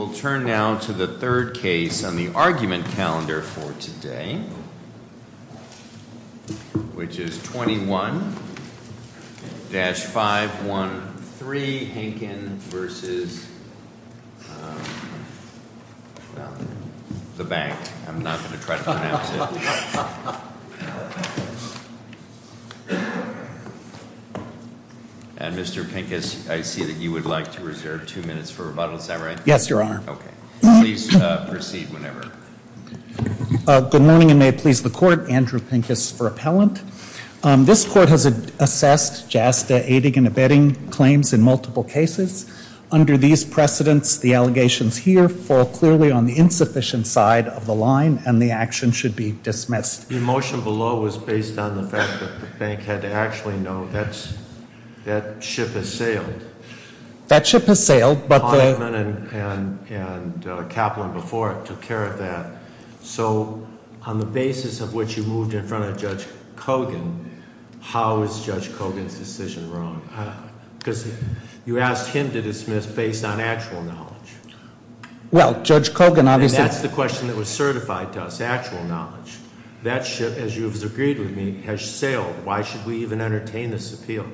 We'll turn now to the third case on the argument calendar for today, which is 21-513, Henkin v. the bank, I'm not going to try to pronounce it. And Mr. Pincus, I see that you would like to reserve two minutes for rebuttal, is that right? Yes, Your Honor. Okay. Please proceed whenever. Good morning and may it please the court, Andrew Pincus for appellant. This court has assessed JASTA aiding and abetting claims in multiple cases. Under these precedents, the allegations here fall clearly on the insufficient side of the line and the action should be dismissed. The motion below was based on the fact that the bank had to actually know that ship has sailed. That ship has sailed, but the— Kahneman and Kaplan before it took care of that. So on the basis of which you moved in front of Judge Kogan, how is Judge Kogan's decision wrong? Because you asked him to dismiss based on actual knowledge. Well, Judge Kogan obviously— And that's the question that was certified to us, actual knowledge. That ship, as you have agreed with me, has sailed. Why should we even entertain this appeal?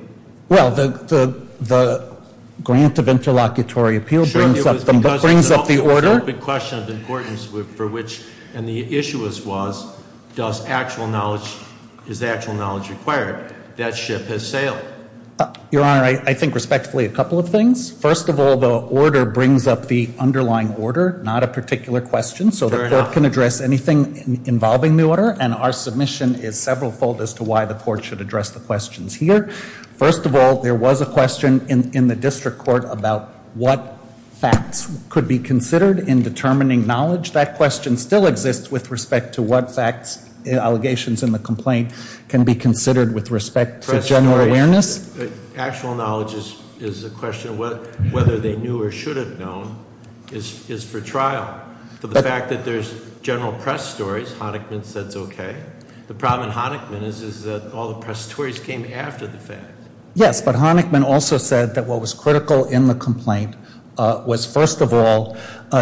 Well, the grant of interlocutory appeal brings up the order— Sure, it was because the question of importance for which—and the issue was, does actual knowledge—is actual knowledge required? That ship has sailed. Your Honor, I think respectfully a couple of things. First of all, the order brings up the underlying order, not a particular question. So the court can address anything involving the order and our submission is several fold as to why the court should address the questions here. First of all, there was a question in the district court about what facts could be considered in determining knowledge. That question still exists with respect to what facts, allegations in the complaint can be considered with respect to general awareness. Actual knowledge is a question of whether they knew or should have known is for trial. For the fact that there's general press stories, Honickman says okay. The problem in Honickman is that all the press stories came after the fact. Yes, but Honickman also said that what was critical in the complaint was first of all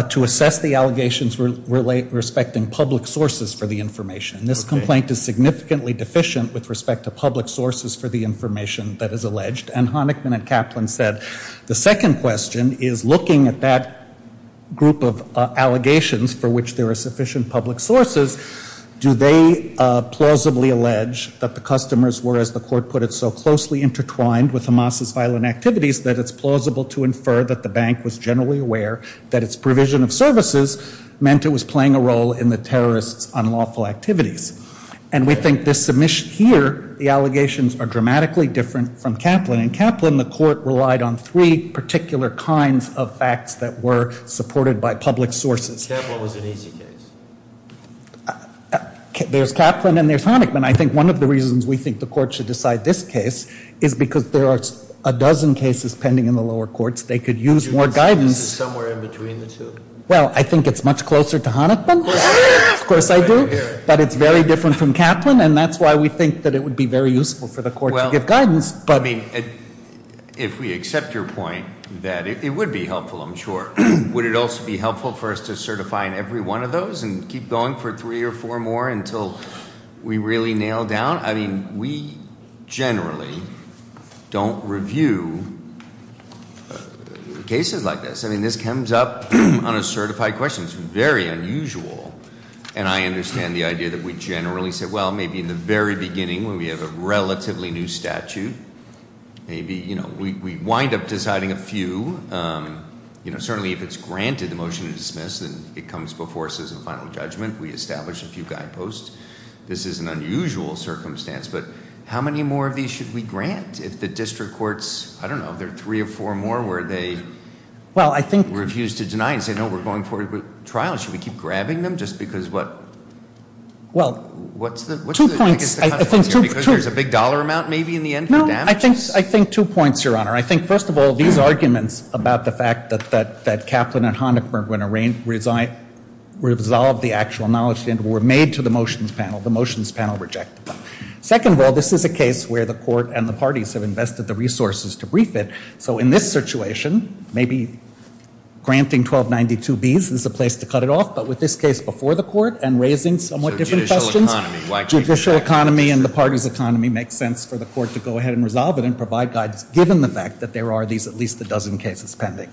to assess the allegations respecting public sources for the information. This complaint is significantly deficient with respect to public sources for the information that is alleged. And Honickman and Kaplan said the second question is looking at that group of allegations for which there are sufficient public sources. Do they plausibly allege that the customers were, as the court put it, so closely intertwined with Hamas' violent activities that it's plausible to infer that the bank was generally aware that its provision of services meant it was playing a role in the terrorists' unlawful activities. And we think this submission here, the allegations are dramatically different from Kaplan. In Kaplan, the court relied on three particular kinds of facts that were supported by public sources. Kaplan was an easy case. There's Kaplan and there's Honickman. I think one of the reasons we think the court should decide this case is because there are a dozen cases pending in the lower courts. They could use more guidance. This is somewhere in between the two. Well, I think it's much closer to Honickman, of course I do, but it's very different from Kaplan and that's why we think that it would be very useful for the court to give guidance. If we accept your point that it would be helpful, I'm sure. Would it also be helpful for us to certify in every one of those and keep going for three or four more until we really nail down? I mean, we generally don't review cases like this. I mean, this comes up on a certified question. It's very unusual. And I understand the idea that we generally say, well, maybe in the very beginning when we have a relatively new statute, maybe we wind up deciding a few. Certainly, if it's granted the motion to dismiss, then it comes before us as a final judgment. We establish a few guideposts. This is an unusual circumstance, but how many more of these should we grant? If the district courts, I don't know, if there are three or four more where they refuse to deny and say, no, we're going forward with trials. Should we keep grabbing them just because what? What's the- Two points. I think two- Because there's a big dollar amount maybe in the end who damages? I think two points, Your Honor. I think, first of all, these arguments about the fact that Kaplan and Honecker went around to resolve the actual knowledge were made to the motions panel. The motions panel rejected them. Second of all, this is a case where the court and the parties have invested the resources to brief it. So in this situation, maybe granting 1292Bs is a place to cut it off. But with this case before the court and raising somewhat different questions- Judicial economy. Judicial economy and the parties' economy makes sense for the court to go ahead and resolve it and provide guidance, given the fact that there are these at least a dozen cases pending.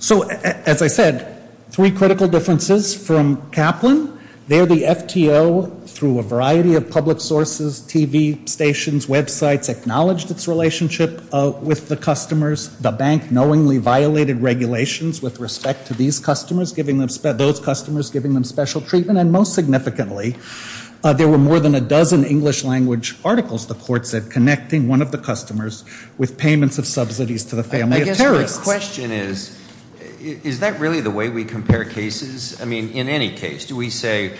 So, as I said, three critical differences from Kaplan. There, the FTO, through a variety of public sources, TV stations, websites, acknowledged its relationship with the customers. The bank knowingly violated regulations with respect to these customers, giving them- those customers giving them special treatment. And then, most significantly, there were more than a dozen English-language articles, the court said, connecting one of the customers with payments of subsidies to the family of terrorists. I guess my question is, is that really the way we compare cases? I mean, in any case, do we say,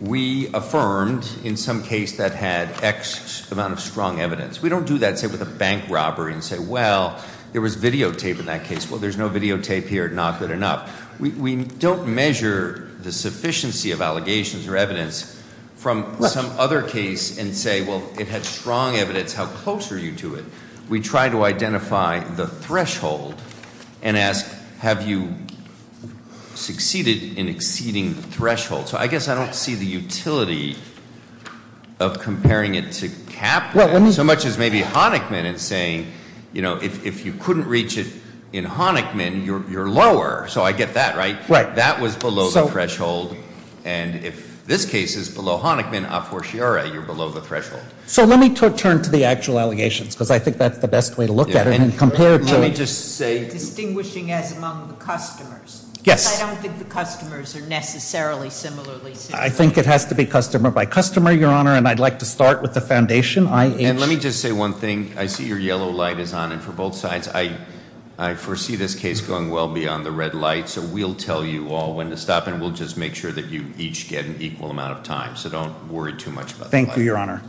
we affirmed in some case that had X amount of strong evidence. We don't do that, say, with a bank robbery and say, well, there was videotape in that case. Well, there's no videotape here, not good enough. We don't measure the sufficiency of allegations or evidence from some other case and say, well, it had strong evidence. How close are you to it? We try to identify the threshold and ask, have you succeeded in exceeding the threshold? So I guess I don't see the utility of comparing it to Kaplan so much as maybe Honickman in saying, if you couldn't reach it in Honickman, you're lower. So I get that, right? Right. That was below the threshold. And if this case is below Honickman, a fortiori, you're below the threshold. So let me turn to the actual allegations, because I think that's the best way to look at it and compare it to- Let me just say- Distinguishing as among the customers. Yes. Because I don't think the customers are necessarily similarly- I think it has to be customer by customer, Your Honor, and I'd like to start with the foundation. I- And let me just say one thing. I see your yellow light is on. And for both sides, I foresee this case going well beyond the red light. So we'll tell you all when to stop, and we'll just make sure that you each get an equal amount of time. So don't worry too much about that. Thank you, Your Honor.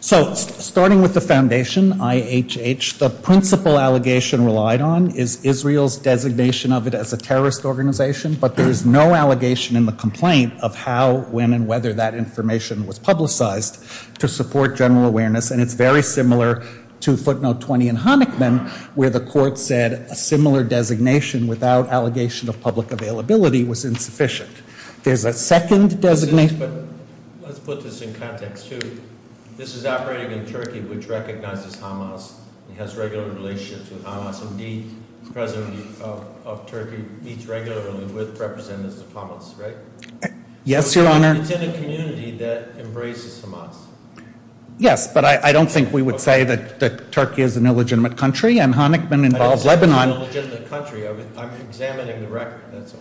So starting with the foundation, IHH, the principal allegation relied on is Israel's designation of it as a terrorist organization. But there is no allegation in the complaint of how, when, and whether that information was publicized to support general awareness. And it's very similar to footnote 20 in Honickman, where the court said a similar designation without allegation of public availability was insufficient. There's a second designation- But let's put this in context, too. This is operating in Turkey, which recognizes Hamas and has regular relationships with Hamas. Indeed, the President of Turkey meets regularly with representatives of Hamas, right? Yes, Your Honor. It's in a community that embraces Hamas. Yes, but I don't think we would say that Turkey is an illegitimate country, and Honickman involves Lebanon- I don't say it's an illegitimate country, I'm examining the record, that's all.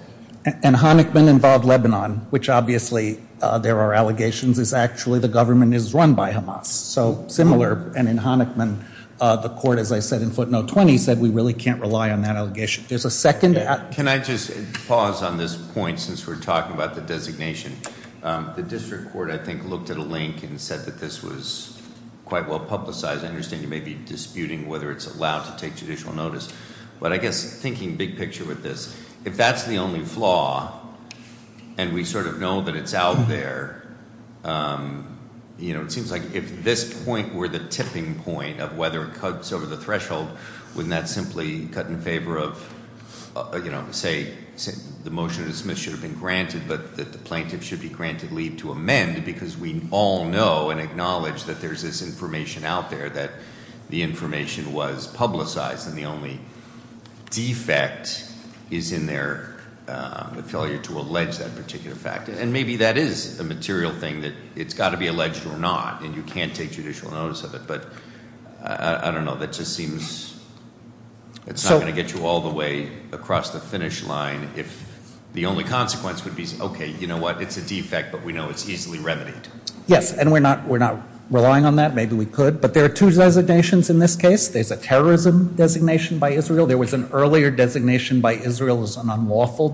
And Honickman involved Lebanon, which obviously there are allegations, is actually the government is run by Hamas, so similar. And in Honickman, the court, as I said in footnote 20, said we really can't rely on that allegation. There's a second- Can I just pause on this point since we're talking about the designation? The district court, I think, looked at a link and said that this was quite well publicized. I understand you may be disputing whether it's allowed to take judicial notice. But I guess thinking big picture with this, if that's the only flaw and we sort of know that it's out there, it seems like if this point were the tipping point of whether it cuts over the threshold, wouldn't that simply cut in favor of, say, the motion to dismiss should have been granted, but that the plaintiff should be granted leave to amend because we all know and acknowledge that there's this information out there that the information was publicized and the only defect is in their failure to allege that particular fact. And maybe that is a material thing that it's got to be alleged or not, and you can't take judicial notice of it. But I don't know, that just seems, it's not going to get you all the way across the finish line if the only consequence would be, okay, you know what, it's a defect, but we know it's easily remedied. Yes, and we're not relying on that. Maybe we could, but there are two designations in this case. There's a terrorism designation by Israel. There was an earlier designation by Israel as an unlawful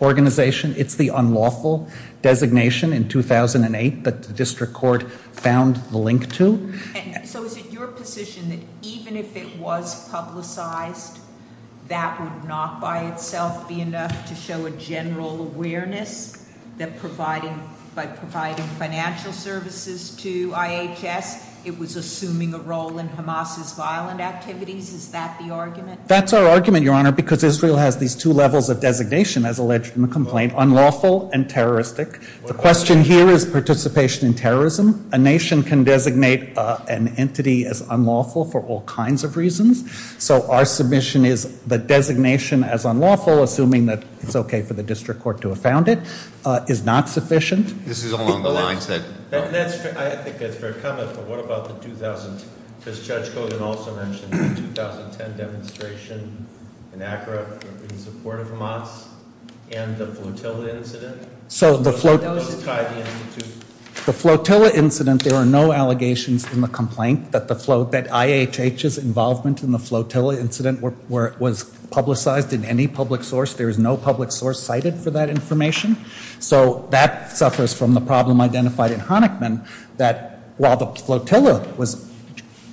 organization. It's the unlawful designation in 2008 that the district court found the link to. So is it your position that even if it was publicized, that would not by itself be enough to show a general awareness that providing, by providing financial services to IHS, it was assuming a role in Hamas's violent activities? Is that the argument? That's our argument, Your Honor, because Israel has these two levels of designation, as alleged in the complaint, unlawful and terroristic. The question here is participation in terrorism. A nation can designate an entity as unlawful for all kinds of reasons. So our submission is the designation as unlawful, assuming that it's okay for the district court to have found it, is not sufficient. This is along the lines that- I think that's a fair comment, but what about the 2000, because Judge Cogan also mentioned the 2010 demonstration in Accra in support of Hamas and the flotilla incident. So the flotilla incident, there are no allegations in the complaint that IHH's involvement in the flotilla incident was publicized in any public source. There is no public source cited for that information. So that suffers from the problem identified in Honickman, that while the flotilla was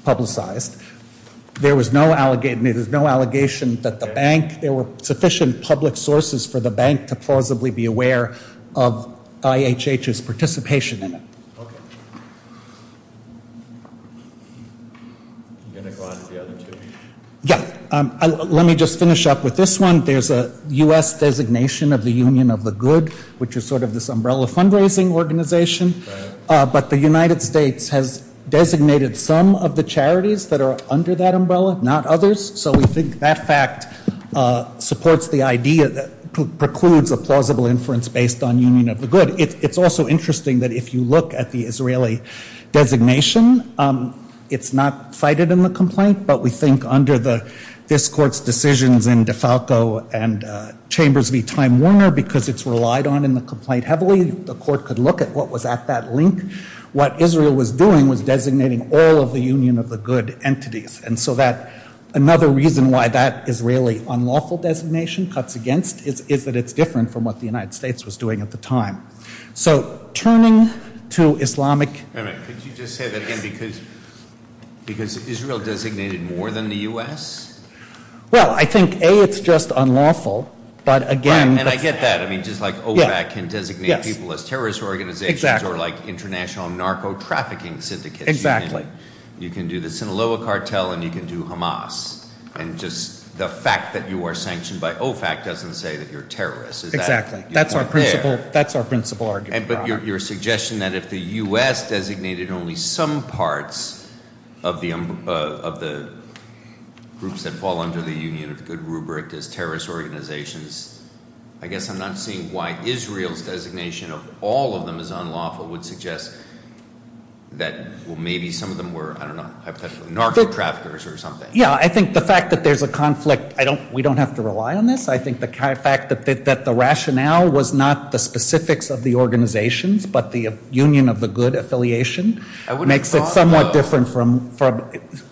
publicized, there was no allegation that the bank, there were sufficient public sources for the bank to plausibly be aware of IHH's participation in it. Okay. You're going to go on to the other two? Yeah, let me just finish up with this one. There's a US designation of the Union of the Good, which is sort of this umbrella fundraising organization. But the United States has designated some of the charities that are under that umbrella, not others. So we think that fact supports the idea that precludes a plausible inference based on Union of the Good. It's also interesting that if you look at the Israeli designation, it's not cited in the complaint, but we think under this court's decisions in DeFalco and Chambers v. that link, what Israel was doing was designating all of the Union of the Good entities. And so that, another reason why that Israeli unlawful designation cuts against, is that it's different from what the United States was doing at the time. So, turning to Islamic- Wait a minute, could you just say that again, because Israel designated more than the US? Well, I think A, it's just unlawful, but again- Right, and I get that. I mean, just like OBAC can designate people as terrorist organizations or international narco-trafficking syndicates. Exactly. You can do the Sinaloa cartel and you can do Hamas. And just the fact that you are sanctioned by OFAC doesn't say that you're a terrorist. Exactly. That's our principal argument. But your suggestion that if the US designated only some parts of the groups that fall under the Union of the Good rubric as terrorist organizations, I guess I'm not seeing why Israel's designation of all of them as unlawful would suggest that, well, maybe some of them were, I don't know, hypothetically narco-traffickers or something. Yeah, I think the fact that there's a conflict, we don't have to rely on this. I think the fact that the rationale was not the specifics of the organizations, but the Union of the Good affiliation makes it somewhat different from,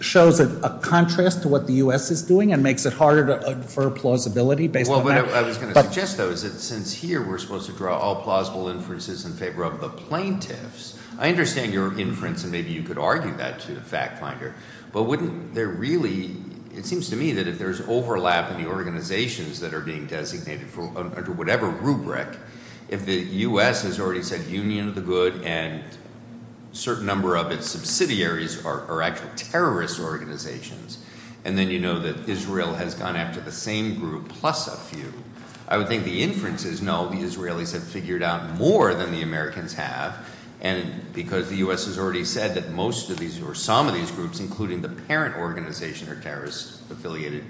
shows a contrast to what the US is doing and makes it harder to defer plausibility based on- Well, what I was going to suggest though is that since here we're supposed to draw all plausible inferences in favor of the plaintiffs, I understand your inference and maybe you could argue that to the fact finder, but wouldn't there really, it seems to me that if there's overlap in the organizations that are being designated under whatever rubric, if the US has already said Union of the Good and certain number of its subsidiaries are actual terrorist organizations. And then you know that Israel has gone after the same group plus a few. I would think the inference is no, the Israelis have figured out more than the Americans have. And because the US has already said that most of these or some of these groups, including the parent organization, are terrorist affiliated.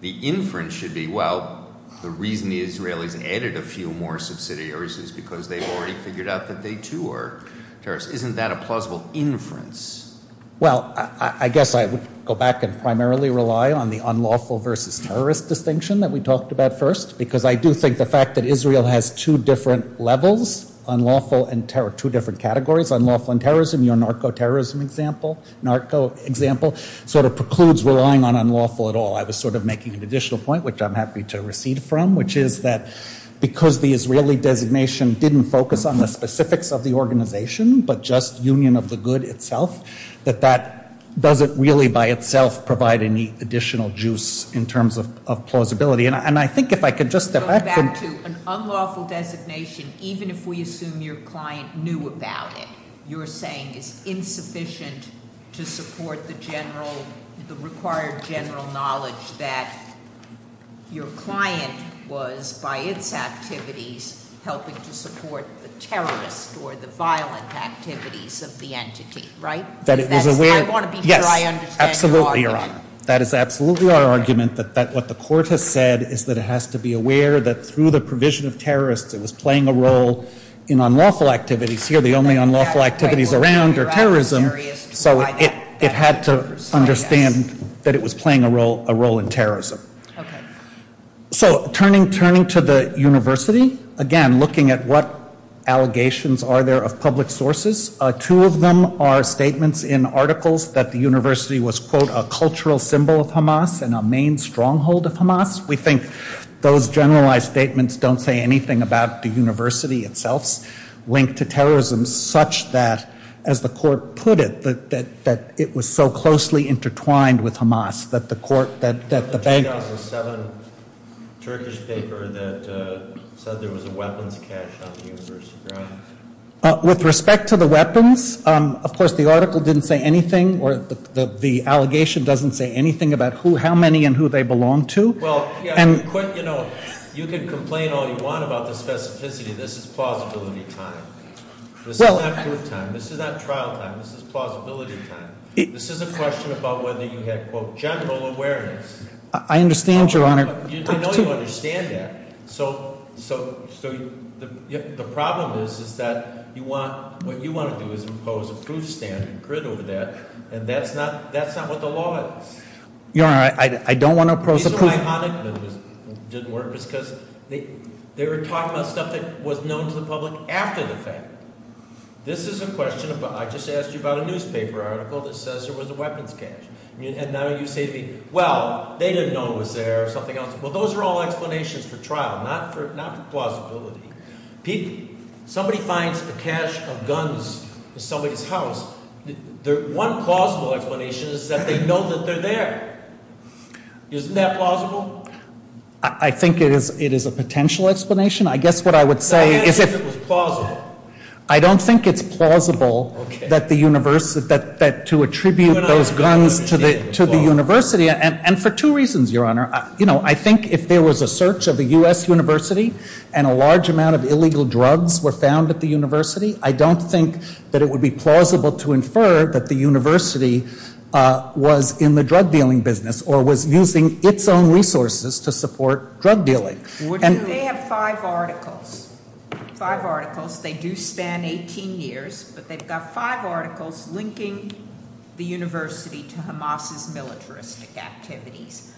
The inference should be, well, the reason the Israelis added a few more subsidiaries is because they've already figured out that they too are terrorists. Isn't that a plausible inference? Well, I guess I would go back and primarily rely on the unlawful versus terrorist distinction that we talked about first, because I do think the fact that Israel has two different levels, unlawful and terror, two different categories, unlawful and terrorism, your narco-terrorism example, narco example, sort of precludes relying on unlawful at all. I was sort of making an additional point, which I'm happy to recede from, which is that because the Israeli designation didn't focus on the specifics of the organization, but just union of the good itself, that that doesn't really by itself provide any additional juice in terms of plausibility. And I think if I could just- Go back to an unlawful designation, even if we assume your client knew about it. You're saying it's insufficient to support the required general knowledge that your client was, by its activities, helping to support the terrorist or the violent activities of the entity, right? That it was aware- I want to be sure I understand your argument. Yes, absolutely, Your Honor. That is absolutely our argument, that what the court has said is that it has to be aware that through the provision of terrorists, it was playing a role in unlawful activities here, the only unlawful activities around are terrorism. So it had to understand that it was playing a role in terrorism. Okay. So turning to the university, again, looking at what allegations are there of public sources, two of them are statements in articles that the university was, quote, a cultural symbol of Hamas and a main stronghold of Hamas. We think those generalized statements don't say anything about the university itself's link to terrorism such that, as the court put it, that it was so closely intertwined with Hamas that the court, that the bank- The 2007 Turkish paper that said there was a weapons cache on the university grounds. With respect to the weapons, of course, the article didn't say anything or the allegation doesn't say anything about how many and who they belong to. Well, yeah, you can complain all you want about the specificity. This is plausibility time. This is not court time. This is not trial time. This is plausibility time. This is a question about whether you had, quote, general awareness. I understand, your honor. I know you understand that. So the problem is that what you want to do is impose a proof standard and grid over that, and that's not what the law is. Your honor, I don't want to impose a proof- These are my iconic, didn't work, because they were talking about stuff that was known to the public after the fact. This is a question about, I just asked you about a newspaper article that says there was a weapons cache. And now you say to me, well, they didn't know it was there or something else. Well, those are all explanations for trial, not for plausibility. Somebody finds a cache of guns in somebody's house, their one plausible explanation is that they know that they're there. Isn't that plausible? I think it is a potential explanation. I guess what I would say is if- I don't think it's plausible that to attribute those guns to the university, and for two reasons, your honor. I think if there was a search of a US university and a large amount of illegal drugs were found at the university, I don't think that it would be plausible to infer that the university was in the drug dealing business or was using its own resources to support drug dealing. They have five articles, five articles, they do span 18 years, but they've got five articles linking the university to Hamas's militaristic activities.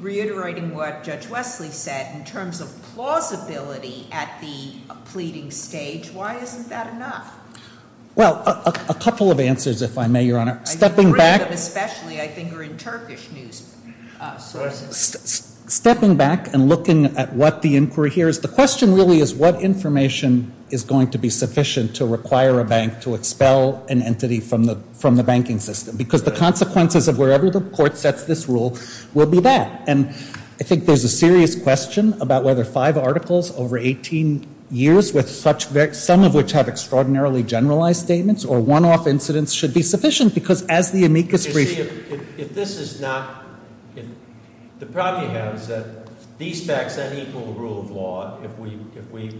Reiterating what Judge Wesley said, in terms of plausibility at the pleading stage, why isn't that enough? Well, a couple of answers, if I may, your honor. Stepping back- Three of them especially, I think, are in Turkish news sources. Stepping back and looking at what the inquiry here is, the question really is what information is going to be sufficient to require a bank to expel an entity from the banking system? Because the consequences of wherever the court sets this rule will be that. And I think there's a serious question about whether five articles over 18 years, with some of which have extraordinarily generalized statements, or one-off incidents, should be sufficient. Because as the amicus brief- If this is not, the problem you have is that these facts then equal the rule of law if we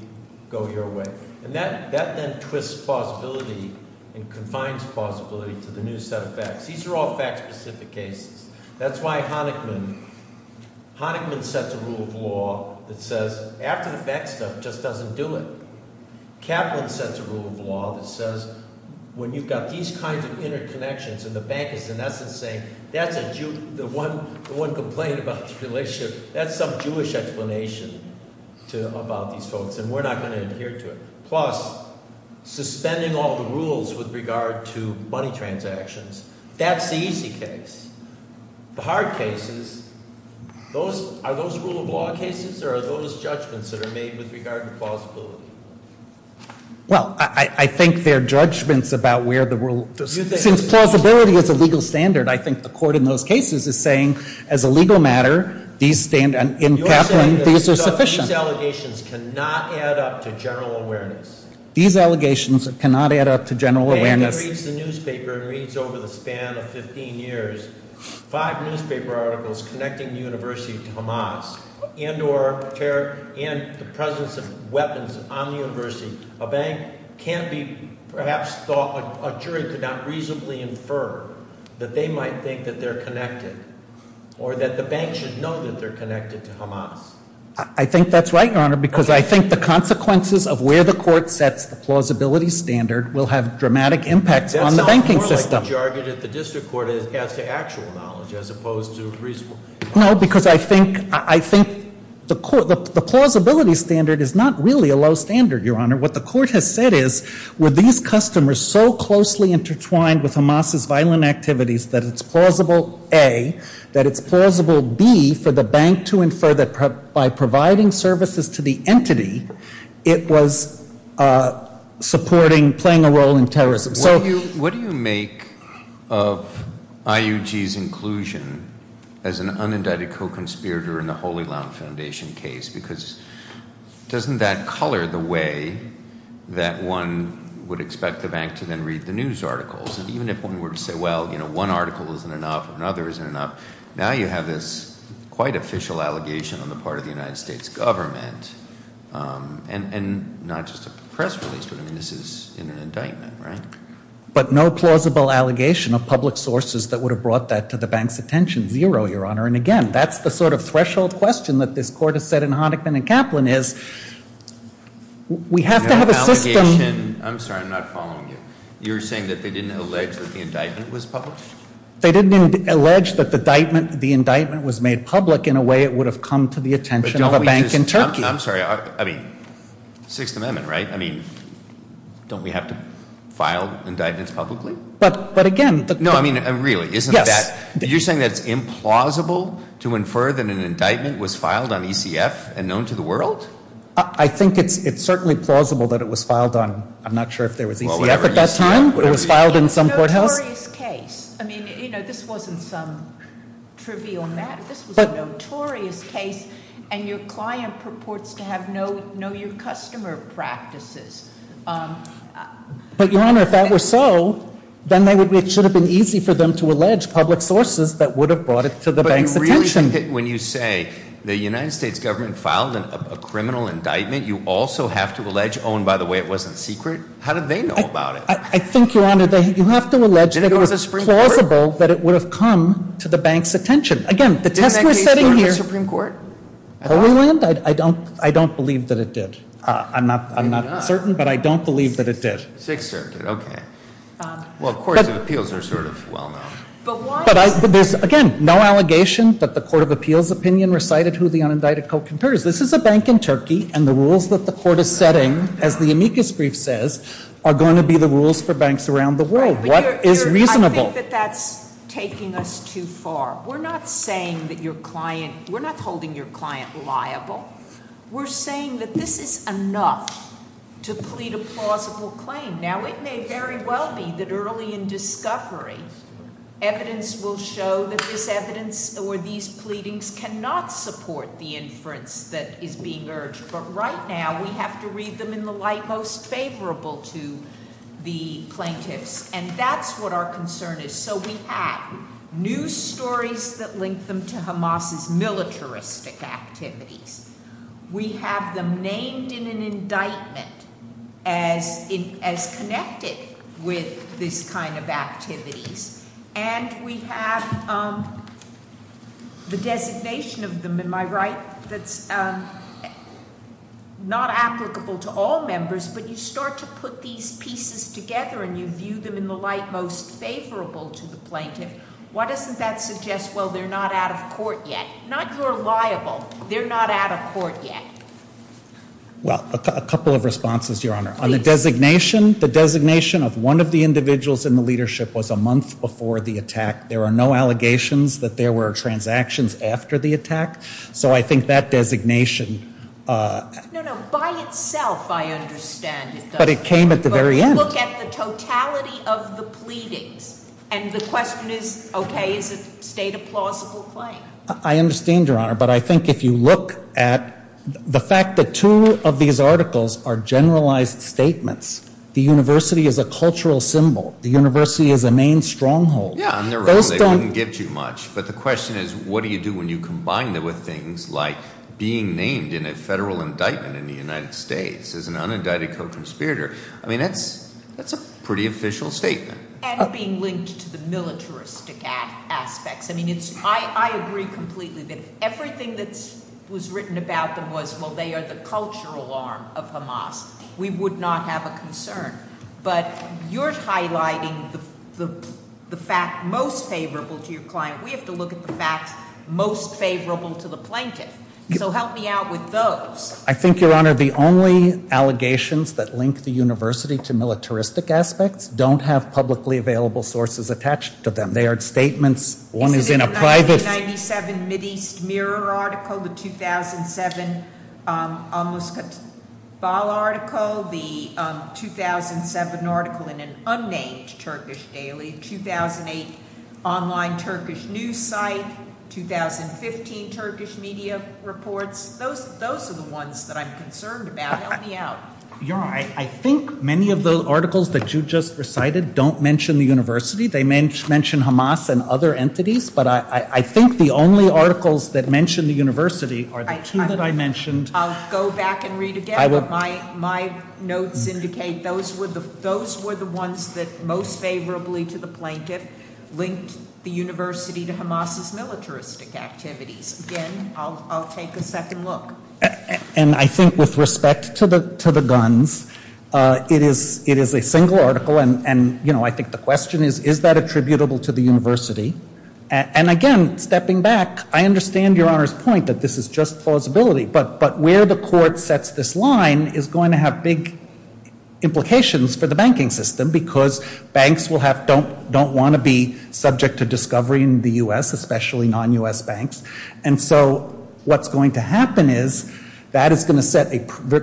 go your way. And that then twists plausibility and confines plausibility to the new set of facts. These are all fact-specific cases. That's why Honigman sets a rule of law that says, after the fact stuff, just doesn't do it. Kaplan sets a rule of law that says, when you've got these kinds of interconnections, and the bank is, in essence, saying, that's the one complaint about the relationship, that's some Jewish explanation about these folks, and we're not going to adhere to it. Plus, suspending all the rules with regard to money transactions, that's the easy case. The hard case is, are those rule of law cases, or are those judgments that are made with regard to plausibility? Well, I think they're judgments about where the rule- Since plausibility is a legal standard, I think the court in those cases is saying, as a legal matter, these stand, and in Kaplan, these are sufficient. These allegations cannot add up to general awareness. These allegations cannot add up to general awareness. When he reads the newspaper and reads over the span of 15 years, five newspaper articles connecting the university to Hamas, and the presence of weapons on the university, a bank can't be, perhaps thought, a jury could not reasonably infer that they might think that they're connected. Or that the bank should know that they're connected to Hamas. I think that's right, Your Honor, because I think the consequences of where the court sets the plausibility standard will have dramatic impacts on the banking system. That sounds more like the jargon at the district court as to actual knowledge, as opposed to reasonable- No, because I think the plausibility standard is not really a low standard, Your Honor. What the court has said is, were these customers so closely intertwined with Hamas's violent activities that it's plausible A, that it's plausible B, for the bank to infer that by providing services to the entity, it was supporting, playing a role in terrorism. So- What do you make of IUG's inclusion as an unindicted co-conspirator in the Holy Land Foundation case? Because doesn't that color the way that one would expect the bank to then read the news articles? And even if one were to say, well, one article isn't enough, another isn't enough. Now you have this quite official allegation on the part of the United States government. And not just a press release, but I mean, this is an indictment, right? But no plausible allegation of public sources that would have brought that to the bank's attention, zero, Your Honor. And again, that's the sort of threshold question that this court has said in Honickman and Kaplan is, we have to have a system- That they didn't allege that the indictment was published? They didn't allege that the indictment was made public in a way it would have come to the attention of a bank in Turkey. I'm sorry, I mean, Sixth Amendment, right? I mean, don't we have to file indictments publicly? But again- No, I mean, really, isn't that- Yes. You're saying that it's implausible to infer that an indictment was filed on ECF and known to the world? I think it's certainly plausible that it was filed on, I'm not sure if there was ECF at that time. It was filed in some courthouse. It's a notorious case. I mean, this wasn't some trivial matter. This was a notorious case, and your client purports to know your customer practices. But Your Honor, if that were so, then it should have been easy for them to allege public sources that would have brought it to the bank's attention. When you say the United States government filed a criminal indictment, you also have to allege, and by the way, it wasn't secret? How did they know about it? I think, Your Honor, you have to allege that it was plausible that it would have come to the bank's attention. Again, the test we're setting here- Did the case go to the Supreme Court? Holyland? I don't believe that it did. I'm not certain, but I don't believe that it did. Sixth Circuit, okay. Well, courts of appeals are sort of well-known. But why- But there's, again, no allegation that the court of appeals opinion recited who the unindicted co-concurs. This is a bank in Turkey, and the rules that the court is setting, as the amicus brief says, are going to be the rules for banks around the world. What is reasonable? I think that that's taking us too far. We're not saying that your client, we're not holding your client liable. We're saying that this is enough to plead a plausible claim. Now, it may very well be that early in discovery, evidence will show that this evidence or these pleadings cannot support the inference that is being urged. But right now, we have to read them in the light most favorable to the plaintiffs. And that's what our concern is. So we have news stories that link them to Hamas's militaristic activities. We have them named in an indictment as connected with this kind of activities. And we have the designation of them, am I right, that's not applicable to all members. But you start to put these pieces together, and you view them in the light most favorable to the plaintiff. Why doesn't that suggest, well, they're not out of court yet? Not you're liable, they're not out of court yet. Well, a couple of responses, Your Honor. On the designation, the designation of one of the individuals in the leadership was a month before the attack. There are no allegations that there were transactions after the attack. So I think that designation- No, no, by itself, I understand it doesn't. But it came at the very end. But look at the totality of the pleadings. And the question is, okay, is it state a plausible claim? I understand, Your Honor, but I think if you look at the fact that two of these articles are generalized statements. The university is a cultural symbol. The university is a main stronghold. Yeah, on their own, they wouldn't give too much. But the question is, what do you do when you combine them with things like being named in a federal indictment in the United States as an unindicted co-conspirator? I mean, that's a pretty official statement. And being linked to the militaristic aspects. I mean, I agree completely that if everything that was written about them was, well, they are the cultural arm of Hamas. We would not have a concern. But you're highlighting the fact most favorable to your client. We have to look at the facts most favorable to the plaintiff. So help me out with those. I think, Your Honor, the only allegations that link the university to militaristic aspects don't have publicly available sources attached to them. They are statements. One is in a private- Is it in the 1997 Mideast Mirror article, the 2007 Amos Katbal article, the 2007 article in an unnamed Turkish daily, 2008 online Turkish news site, 2015 Turkish media reports. Those are the ones that I'm concerned about. Help me out. Your Honor, I think many of the articles that you just recited don't mention the university. They mention Hamas and other entities. But I think the only articles that mention the university are the two that I mentioned- I'll go back and read again. My notes indicate those were the ones that most favorably to the plaintiff linked the university to Hamas' militaristic activities. Again, I'll take a second look. And I think with respect to the guns, it is a single article. And I think the question is, is that attributable to the university? And again, stepping back, I understand Your Honor's point that this is just plausibility. But where the court sets this line is going to have big implications for the banking system because banks don't want to be subject to discovery in the U.S., especially non-U.S. banks. And so what's going to happen is that is going to set a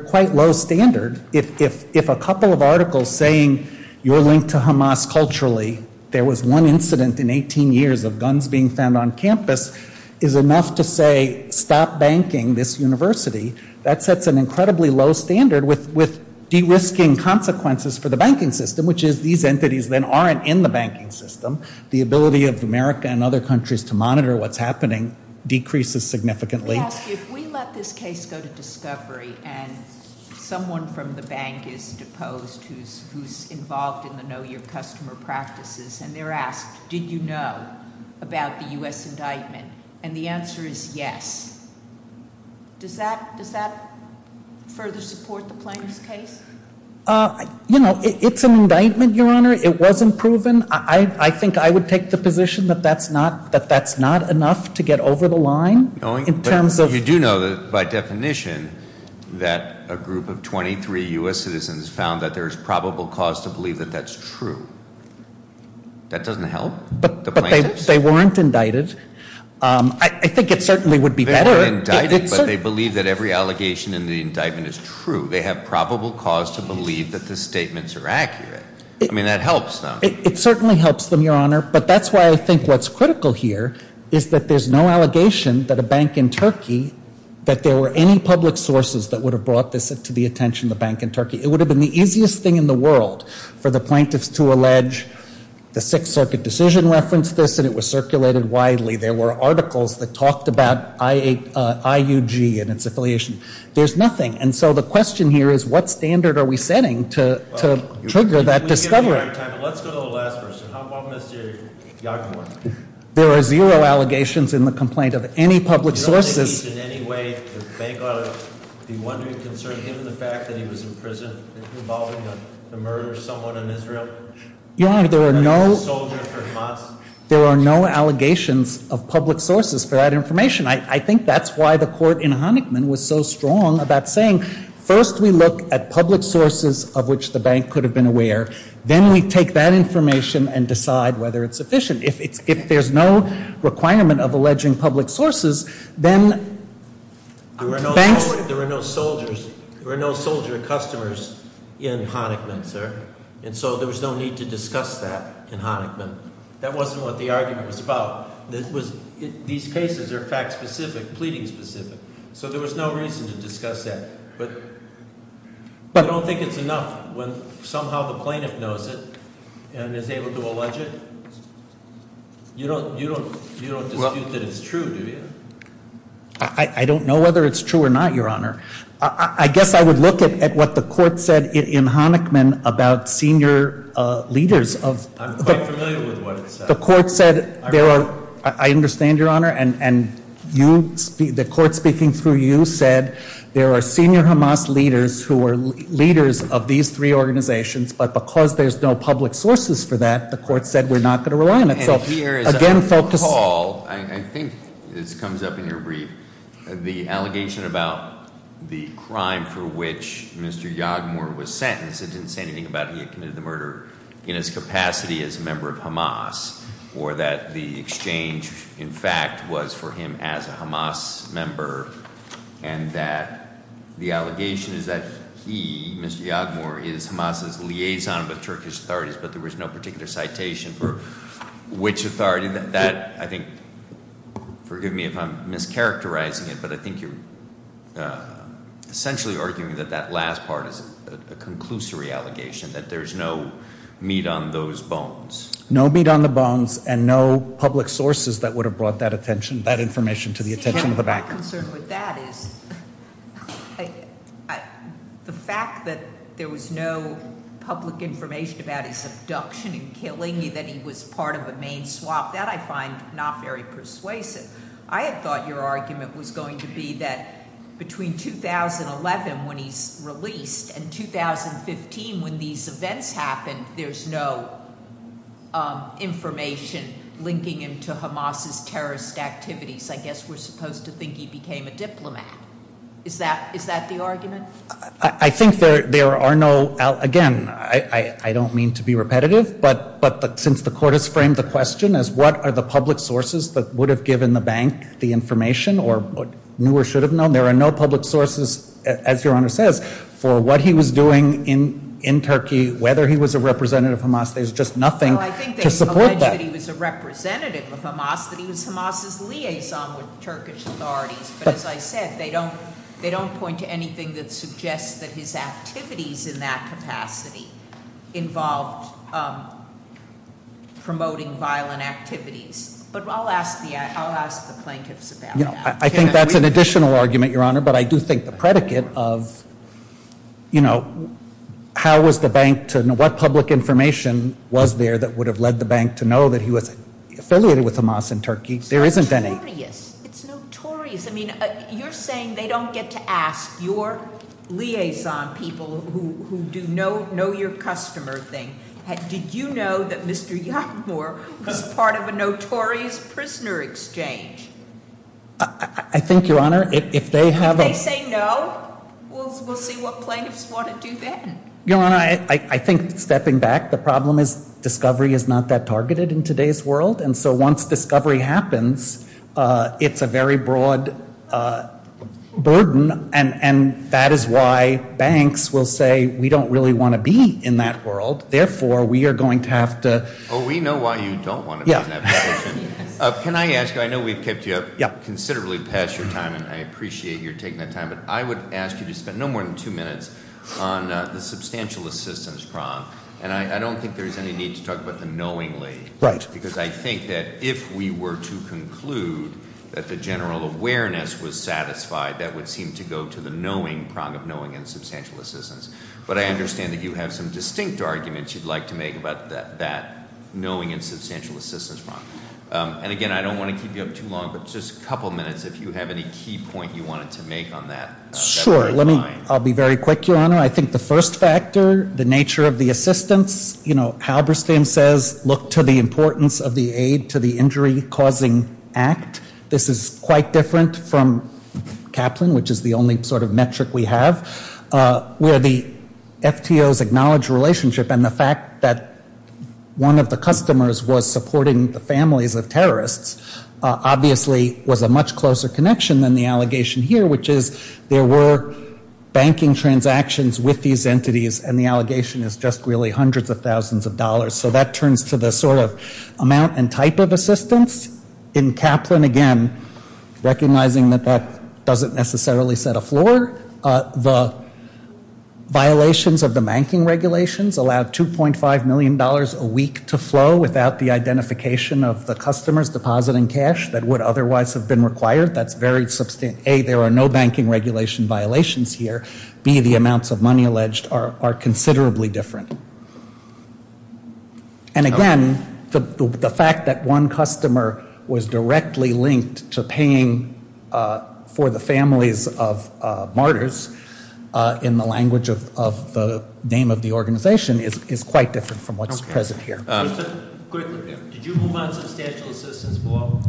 quite low standard. If a couple of articles saying you're linked to Hamas culturally, there was one incident in 18 years of guns being found on campus, is enough to say stop banking this university, that sets an incredibly low standard with de-risking consequences for the banking system, which is these entities then aren't in the banking system. The ability of America and other countries to monitor what's happening decreases significantly. Let me ask you, if we let this case go to discovery and someone from the bank is deposed, who's involved in the no-year customer practices, and they're asked, did you know about the U.S. indictment? And the answer is yes. Does that further support the plaintiff's case? It's an indictment, Your Honor. It wasn't proven. I think I would take the position that that's not enough to get over the line. In terms of- You do know that by definition, that a group of 23 U.S. citizens found that there's probable cause to believe that that's true. That doesn't help? But they weren't indicted. I think it certainly would be better- They weren't indicted, but they believe that every allegation in the indictment is true. They have probable cause to believe that the statements are accurate. I mean, that helps them. It certainly helps them, Your Honor. But that's why I think what's critical here is that there's no allegation that a bank in Turkey, that there were any public sources that would have brought this to the attention of the bank in Turkey. It would have been the easiest thing in the world for the plaintiffs to allege the Sixth Circuit decision referenced this, and it was circulated widely. There were articles that talked about IUG and its affiliation. There's nothing. And so the question here is, what standard are we setting to trigger that discovery? Let's go to the last person. How about Mr. Yagamore? There are zero allegations in the complaint of any public sources. In any way, the bank ought to be wondering concerning him and the fact that he was in prison involving the murder of someone in Israel? Your Honor, there are no- That he was a soldier for months? There are no allegations of public sources for that information. I think that's why the court in Hanikman was so strong about saying, first we look at public sources of which the bank could have been aware. Then we take that information and decide whether it's sufficient. If there's no requirement of alleging public sources, then- There were no soldier customers in Hanikman, sir. And so there was no need to discuss that in Hanikman. That wasn't what the argument was about. These cases are fact specific, pleading specific. So there was no reason to discuss that. But you don't think it's enough when somehow the plaintiff knows it and is able to allege it? You don't dispute that it's true, do you? I don't know whether it's true or not, Your Honor. I guess I would look at what the court said in Hanikman about senior leaders of- I'm quite familiar with what it said. The court said there are, I understand, Your Honor, and the court speaking through you said there are senior Hamas leaders who are leaders of these three organizations. But because there's no public sources for that, the court said we're not going to rely on it. So again, focus- Paul, I think this comes up in your brief. The allegation about the crime for which Mr. Yagmur was sentenced, it didn't say anything about he had committed the murder in his capacity as a member of Hamas. Or that the exchange, in fact, was for him as a Hamas member. And that the allegation is that he, Mr. Yagmur, is Hamas's liaison with Turkish authorities. But there was no particular citation for which authority that, I think, forgive me if I'm mischaracterizing it. But I think you're essentially arguing that that last part is a conclusory allegation, that there's no meat on those bones. No meat on the bones, and no public sources that would have brought that information to the attention of the bank. I'm concerned with that is, the fact that there was no public information about his abduction and killing, that he was part of the main swap, that I find not very persuasive. I had thought your argument was going to be that between 2011, when he's released, and 2015, when these events happened, there's no information linking him to Hamas's terrorist activities. I guess we're supposed to think he became a diplomat. Is that the argument? I think there are no, again, I don't mean to be repetitive. But since the court has framed the question as what are the public sources that would have given the bank the information, or knew or should have known. There are no public sources, as your honor says, for what he was doing in Turkey, whether he was a representative of Hamas. There's just nothing to support that. I think they allege that he was a representative of Hamas, that he was Hamas's liaison with Turkish authorities. But as I said, they don't point to anything that suggests that his activities in that capacity involved promoting violent activities. But I'll ask the plaintiffs about that. I think that's an additional argument, your honor. But I do think the predicate of how was the bank to, what public information was there that would have led the bank to know that he was affiliated with Hamas in Turkey, there isn't any. Notorious, it's notorious. I mean, you're saying they don't get to ask your liaison people who do know your customer thing. Did you know that Mr. Youngmore was part of a notorious prisoner exchange? I think, your honor, if they have a- If they say no, we'll see what plaintiffs want to do then. Your honor, I think stepping back, the problem is discovery is not that targeted in today's world. And so once discovery happens, it's a very broad burden. And that is why banks will say, we don't really want to be in that world. Therefore, we are going to have to- We know why you don't want to be in that position. Can I ask you, I know we've kept you up considerably past your time, and I appreciate your taking that time. But I would ask you to spend no more than two minutes on the substantial assistance prong. And I don't think there's any need to talk about the knowingly, because I think that if we were to conclude that the general awareness was satisfied, that would seem to go to the knowing prong of knowing and substantial assistance. But I understand that you have some distinct arguments you'd like to make about that knowing and substantial assistance prong. And again, I don't want to keep you up too long, but just a couple minutes, if you have any key point you wanted to make on that. Sure, let me, I'll be very quick, your honor. I think the first factor, the nature of the assistance, Halberstam says, look to the importance of the aid to the injury causing act. This is quite different from Kaplan, which is the only sort of metric we have. Where the FTOs acknowledge relationship and the fact that one of the customers was supporting the families of terrorists, obviously was a much closer connection than the allegation here, which is there were banking transactions with these entities and the allegation is just really hundreds of thousands of dollars. So that turns to the sort of amount and type of assistance. In Kaplan, again, recognizing that that doesn't necessarily set a floor, the violations of the banking regulations allowed $2.5 million a week to flow without the identification of the customers depositing cash that would otherwise have been required. That's very substantial. A, there are no banking regulation violations here. B, the amounts of money alleged are considerably different. And again, the fact that one customer was directly linked to paying for the families of martyrs in the language of the name of the organization is quite different from what's present here. Did you move on substantial assistance below?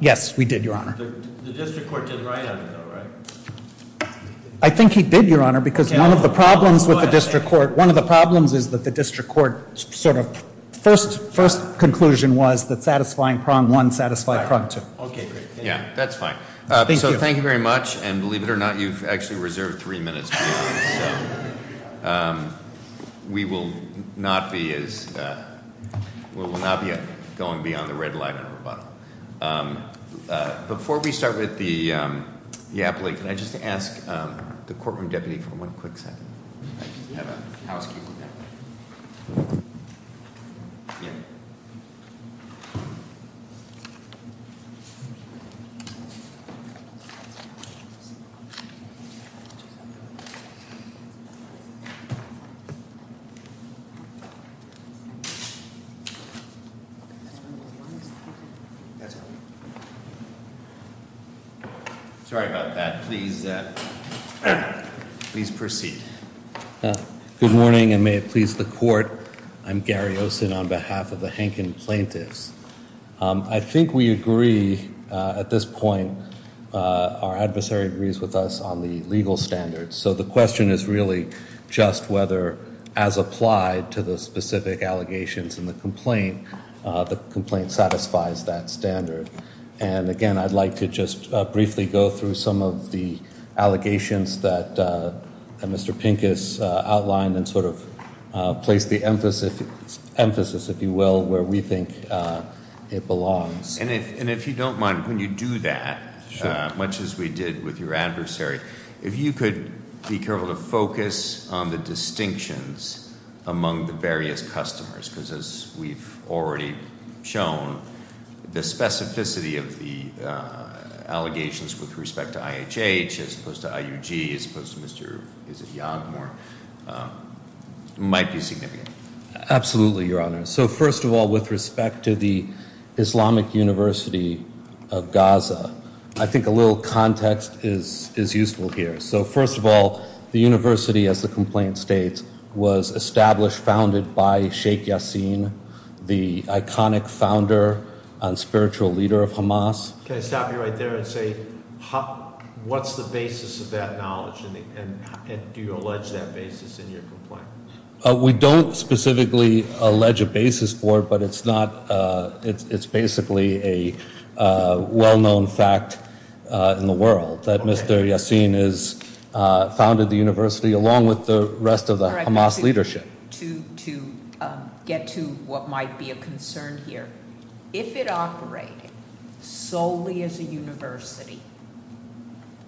Yes, we did, your honor. The district court did right on it though, right? I think he did, your honor, because one of the problems with the district court, one of the problems is that the district court sort of first conclusion was that satisfying prong one satisfied prong two. Okay, great. Yeah, that's fine. So thank you very much, and believe it or not, you've actually reserved three minutes. We will not be as, we will not be going beyond the red line of rebuttal. Before we start with the appellate, can I just ask the courtroom deputy for one quick second? I just have a housekeeper. That's fine. Sorry about that, please proceed. Good morning, and may it please the court. I'm Gary Olsen on behalf of the Hankin Plaintiffs. I think we agree at this point, our adversary agrees with us on the legal standards. So the question is really just whether as applied to the specific allegations in the complaint, the complaint satisfies that standard. And again, I'd like to just briefly go through some of the allegations that Mr. Pincus outlined and sort of place the emphasis, if you will, where we think it belongs. And if you don't mind, when you do that, much as we did with your adversary, if you could be careful to focus on the distinctions among the various customers. Because as we've already shown, the specificity of the allegations with respect to IHH, as opposed to IUG, as opposed to Mr. Is it Yaghmor, might be significant. Absolutely, your honor. So first of all, with respect to the Islamic University of Gaza, I think a little context is useful here. So first of all, the university, as the complaint states, was established, founded by Sheikh Yassin, the iconic founder and spiritual leader of Hamas. Can I stop you right there and say, what's the basis of that knowledge? And do you allege that basis in your complaint? We don't specifically allege a basis for it, but it's basically a well-known fact in the world. That Mr. Yassin has founded the university along with the rest of the Hamas leadership. To get to what might be a concern here. If it operated solely as a university,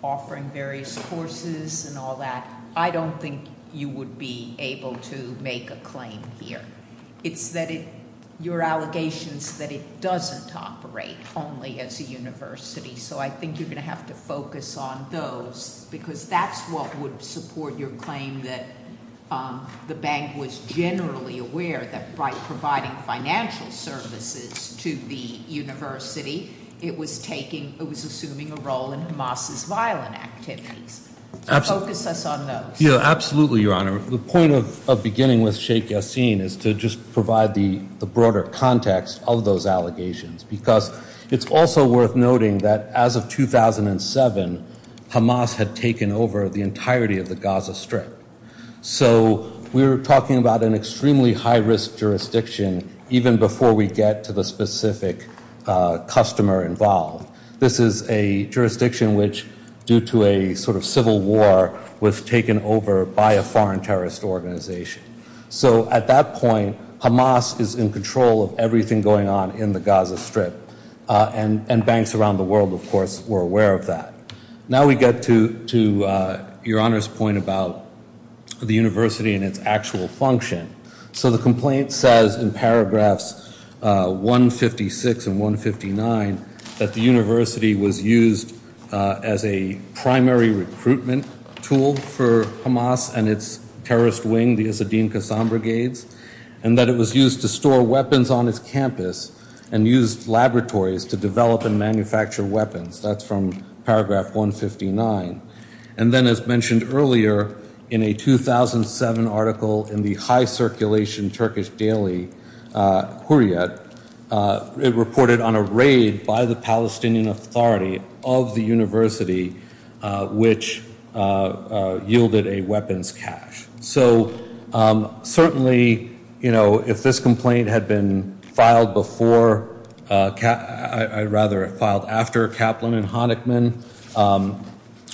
offering various courses and all that, I don't think you would be able to make a claim here. It's that your allegations that it doesn't operate only as a university. So I think you're going to have to focus on those, because that's what would support your claim that the bank was generally aware that by providing financial services to the university, it was assuming a role in Hamas's violent activities. So focus us on those. Yeah, absolutely, your honor. The point of beginning with Sheikh Yassin is to just provide the broader context of those allegations. Because it's also worth noting that as of 2007, Hamas had taken over the entirety of the Gaza Strip. So we're talking about an extremely high risk jurisdiction, even before we get to the specific customer involved. This is a jurisdiction which, due to a sort of civil war, was taken over by a foreign terrorist organization. So at that point, Hamas is in control of everything going on in the Gaza Strip. And banks around the world, of course, were aware of that. Now we get to your honor's point about the university and its actual function. So the complaint says in paragraphs 156 and 159 that the university was used as a primary recruitment tool for the Kassam Brigades, and that it was used to store weapons on its campus, and used laboratories to develop and manufacture weapons. That's from paragraph 159. And then as mentioned earlier, in a 2007 article in the high circulation Turkish daily, Hurriyet, it reported on a raid by the Palestinian authority of the university, which yielded a weapons cache. So certainly, if this complaint had been filed before, I'd rather have filed after Kaplan and Honeckman,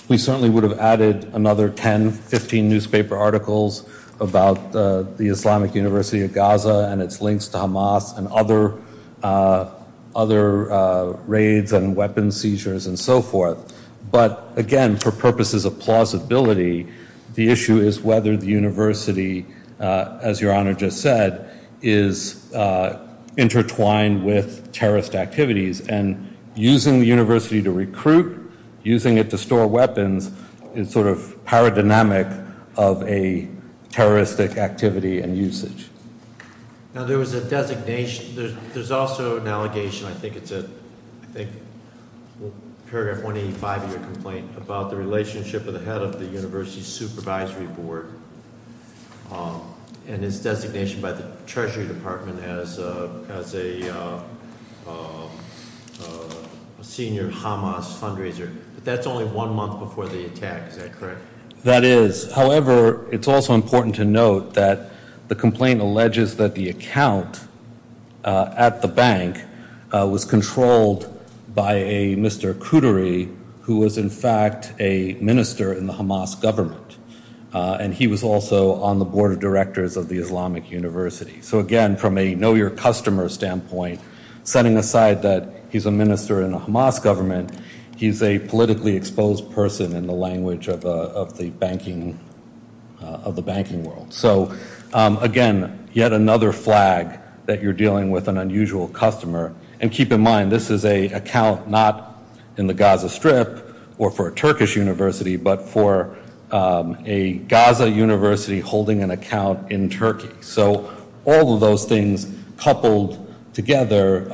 we certainly would have added another 10, 15 newspaper articles about the Islamic University of Gaza and its links to Hamas and other raids and weapons seizures and so forth. But again, for purposes of plausibility, the issue is whether the university, as your honor just said, is intertwined with terrorist activities. And using the university to recruit, using it to store weapons, is sort of paradynamic of a terroristic activity and usage. Now there was a designation, there's also an allegation, I think it's a, I think, paragraph 185 of your complaint, about the relationship of the head of the university's supervisory board and his designation by the treasury department as a senior Hamas fundraiser. But that's only one month before the attack, is that correct? That is. However, it's also important to note that the complaint alleges that the account at the bank was controlled by a Mr. Kudri, who was in fact a minister in the Hamas government. And he was also on the board of directors of the Islamic University. So again, from a know your customer standpoint, setting aside that he's a minister in a Hamas government, he's a politically exposed person in the language of the banking world. So again, yet another flag that you're dealing with an unusual customer. And keep in mind, this is a account not in the Gaza Strip or for a Turkish university, but for a Gaza university holding an account in Turkey. So all of those things coupled together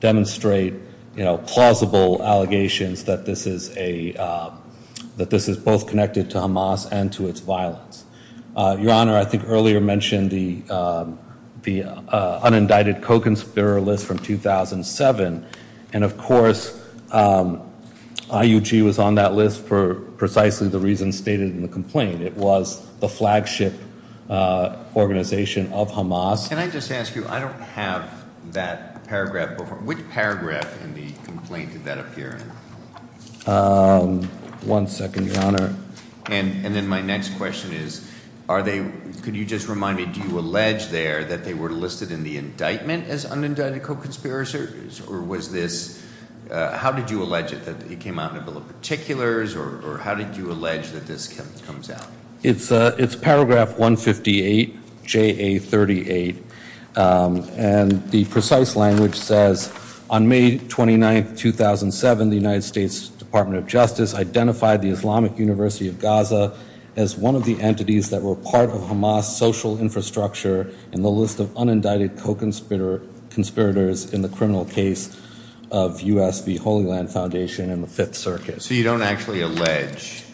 demonstrate plausible allegations that this is both connected to Hamas and to its violence. Your Honor, I think earlier mentioned the unindicted co-conspirator list from 2007. And of course, IUG was on that list for precisely the reason stated in the complaint. It was the flagship organization of Hamas. Can I just ask you, I don't have that paragraph. Which paragraph in the complaint did that appear in? One second, Your Honor. And then my next question is, are they, could you just remind me, do you allege there that they were listed in the indictment as unindicted co-conspirators? Or was this, how did you allege it, that it came out in a bill of particulars? Or how did you allege that this comes out? It's paragraph 158, JA 38, and the precise language says, on May 29th, 2007, the United States Department of Justice identified the Islamic University of Gaza as one of the entities that were part of Hamas' social infrastructure. And the list of unindicted co-conspirators in the criminal case of USV Holy Land Foundation and the Fifth Circuit. So you don't actually allege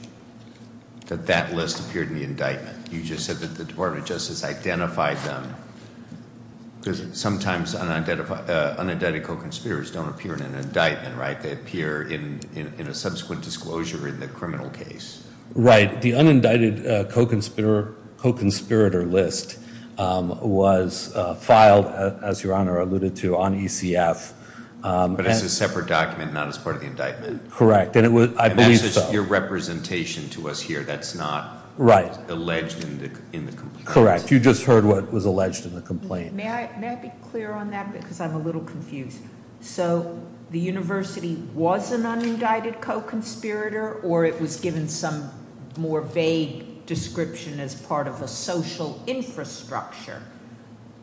that that list appeared in the indictment. You just said that the Department of Justice identified them. Because sometimes unidentified, unindicted co-conspirators don't appear in an indictment, right? They appear in a subsequent disclosure in the criminal case. Right, the unindicted co-conspirator list was filed, as your honor alluded to, on ECF. But it's a separate document, not as part of the indictment. Correct, and I believe so. And that's just your representation to us here, that's not alleged in the complaint. Correct, you just heard what was alleged in the complaint. May I be clear on that, because I'm a little confused. So the university was an unindicted co-conspirator, or it was given some more vague description as part of a social infrastructure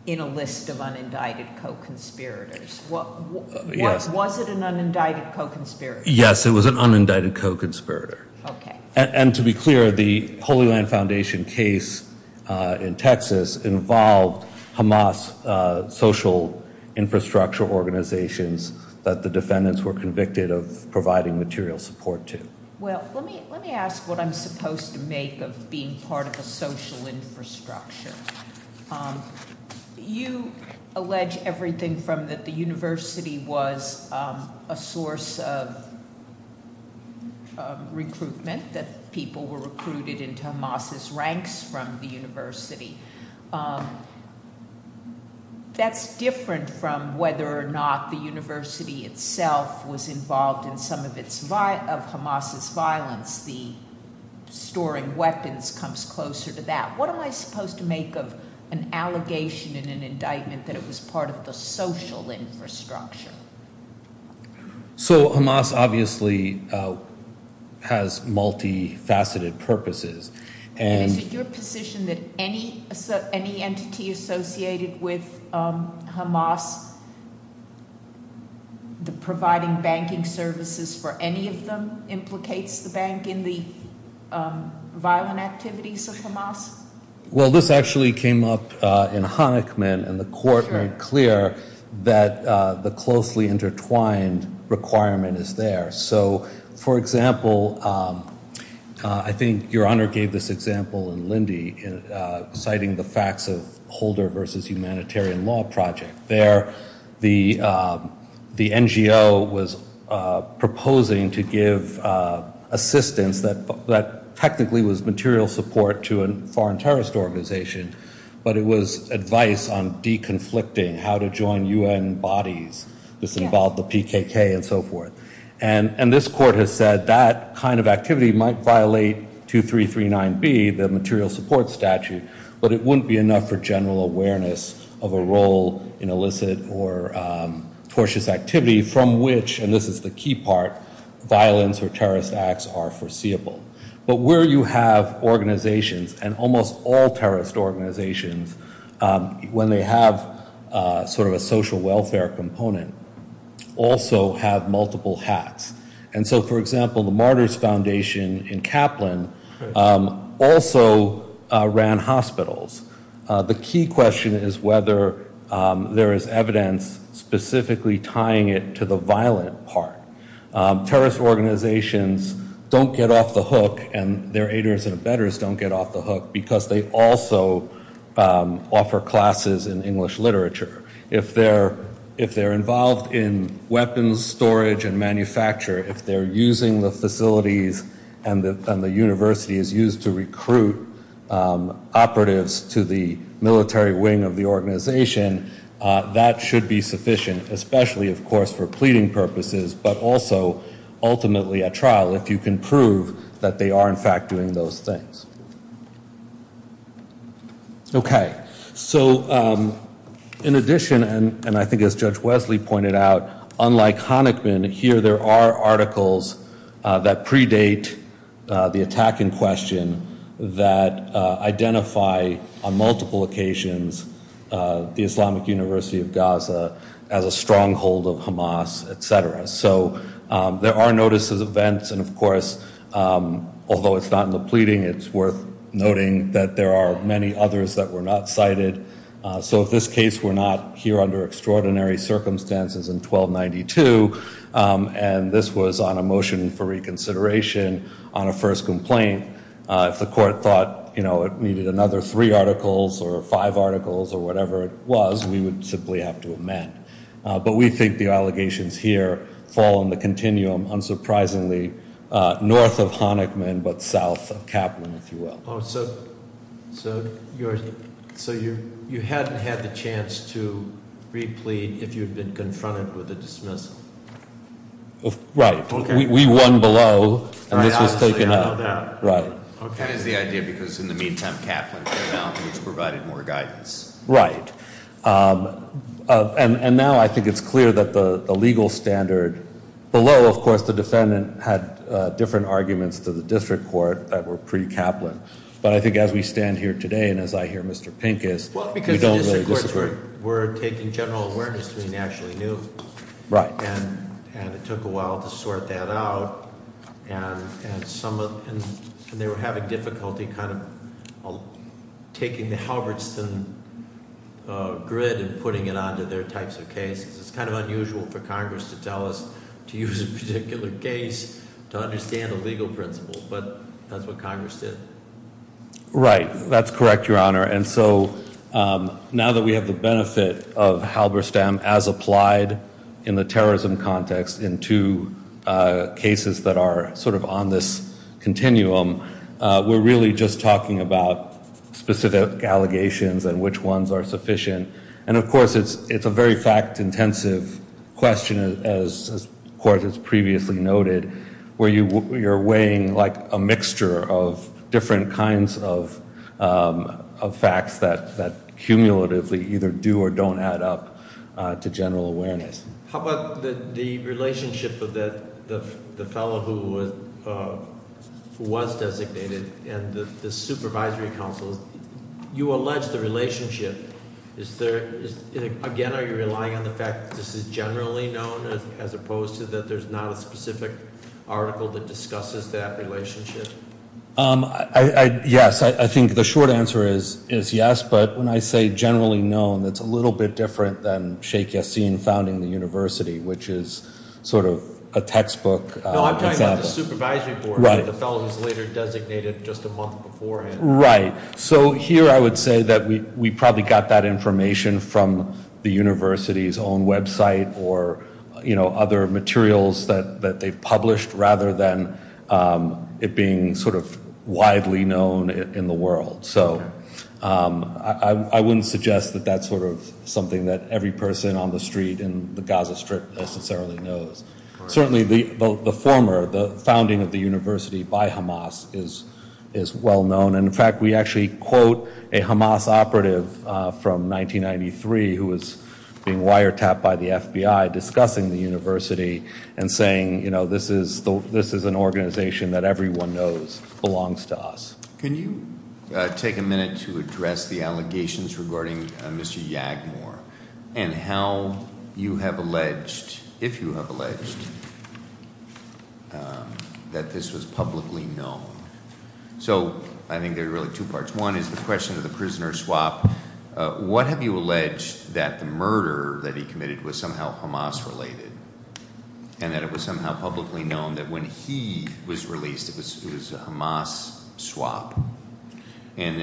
in a list of unindicted co-conspirators? Was it an unindicted co-conspirator? Yes, it was an unindicted co-conspirator. Okay. And to be clear, the Holy Land Foundation case in Texas involved Hamas social infrastructure organizations that the defendants were convicted of providing material support to. Well, let me ask what I'm supposed to make of being part of a social infrastructure. You allege everything from that the university was a source of recruitment, that people were recruited into Hamas's ranks from the university. That's different from whether or not the university itself was involved in some of Hamas's violence. The storing weapons comes closer to that. What am I supposed to make of an allegation in an indictment that it was part of the social infrastructure? So Hamas obviously has multi-faceted purposes. And- Is it your position that any entity associated with Hamas, the providing banking services for any of them implicates the bank in the violent activities of Hamas? Well, this actually came up in Honickman, and the court made clear that the closely intertwined requirement is there. So, for example, I think your honor gave this example in Lindy, citing the facts of Holder versus Humanitarian Law Project. There, the NGO was proposing to give assistance that technically was material support to a foreign terrorist organization. But it was advice on de-conflicting, how to join UN bodies, this involved the PKK and so forth. And this court has said that kind of activity might violate 2339B, the material support statute, but it wouldn't be enough for general awareness of a role in illicit or tortious activity from which, and this is the key part, violence or terrorist acts are foreseeable. But where you have organizations, and almost all terrorist organizations, when they have sort of a social welfare component, also have multiple hats. And so, for example, the Martyrs Foundation in Kaplan also ran hospitals. The key question is whether there is evidence specifically tying it to the violent part. Terrorist organizations don't get off the hook, and their aiders and offer classes in English literature. If they're involved in weapons storage and manufacture, if they're using the facilities, and the university is used to recruit operatives to the military wing of the organization, that should be sufficient, especially, of course, for pleading purposes, but also, ultimately, at trial, if you can prove that they are, in fact, doing those things. Okay, so in addition, and I think as Judge Wesley pointed out, unlike Honickman, here there are articles that predate the attack in question that identify on multiple occasions the Islamic University of Gaza as a stronghold of Hamas, etc. So there are notices of events, and of course, although it's not in the pleading, it's worth noting that there are many others that were not cited. So if this case were not here under extraordinary circumstances in 1292, and this was on a motion for reconsideration on a first complaint, if the court thought, you know, it needed another three articles or five articles or whatever it was, we would simply have to amend. But we think the allegations here fall in the continuum, unsurprisingly, north of Honickman, but south of Kaplan, if you will. Oh, so you hadn't had the chance to replead if you had been confronted with a dismissal? Right. We won below, and this was taken up. Right. Okay. That is the idea, because in the meantime, Kaplan came out, which provided more guidance. Right. And now I think it's clear that the legal standard below, of course, the defendant had different arguments to the district court that were pre-Kaplan. But I think as we stand here today, and as I hear Mr. Pinkus, we don't really disagree. Well, because the district courts were taking general awareness to be nationally new. Right. And it took a while to sort that out. And they were having difficulty kind of taking the Halberstam grid and putting it onto their types of cases. It's kind of unusual for Congress to tell us to use a particular case to understand a legal principle, but that's what Congress did. Right. That's correct, Your Honor. And so now that we have the benefit of Halberstam as applied in the terrorism context in two cases that are sort of on this continuum, we're really just talking about specific allegations and which ones are sufficient. And of course, it's a very fact-intensive question, as the court has previously noted, where you're weighing like a mixture of different kinds of facts that cumulatively either do or don't add up to general awareness. How about the relationship of the fellow who was designated and the supervisory council, you allege the relationship. Is there, again, are you relying on the fact that this is generally known as opposed to that there's not a specific article that discusses that relationship? Yes, I think the short answer is yes, but when I say generally known, it's a little bit different than Sheikh Yassin founding the university, which is sort of a textbook example. No, I'm talking about the supervisory board, the fellow who's later designated just a month beforehand. Right, so here I would say that we probably got that information from the university's own website or other materials that they've published rather than it being sort of widely known in the world. So I wouldn't suggest that that's sort of something that every person on the street in the Gaza Strip necessarily knows. Certainly the former, the founding of the university by Hamas is well known. And in fact, we actually quote a Hamas operative from 1993 who was being wiretapped by the FBI discussing the university and saying, this is an organization that everyone knows belongs to us. Can you take a minute to address the allegations regarding Mr. Yagmor and how you have alleged, if you have alleged, that this was publicly known? So I think there are really two parts. One is the question of the prisoner swap. What have you alleged that the murder that he committed was somehow Hamas related? And that it was somehow publicly known that when he was released, it was a Hamas swap. And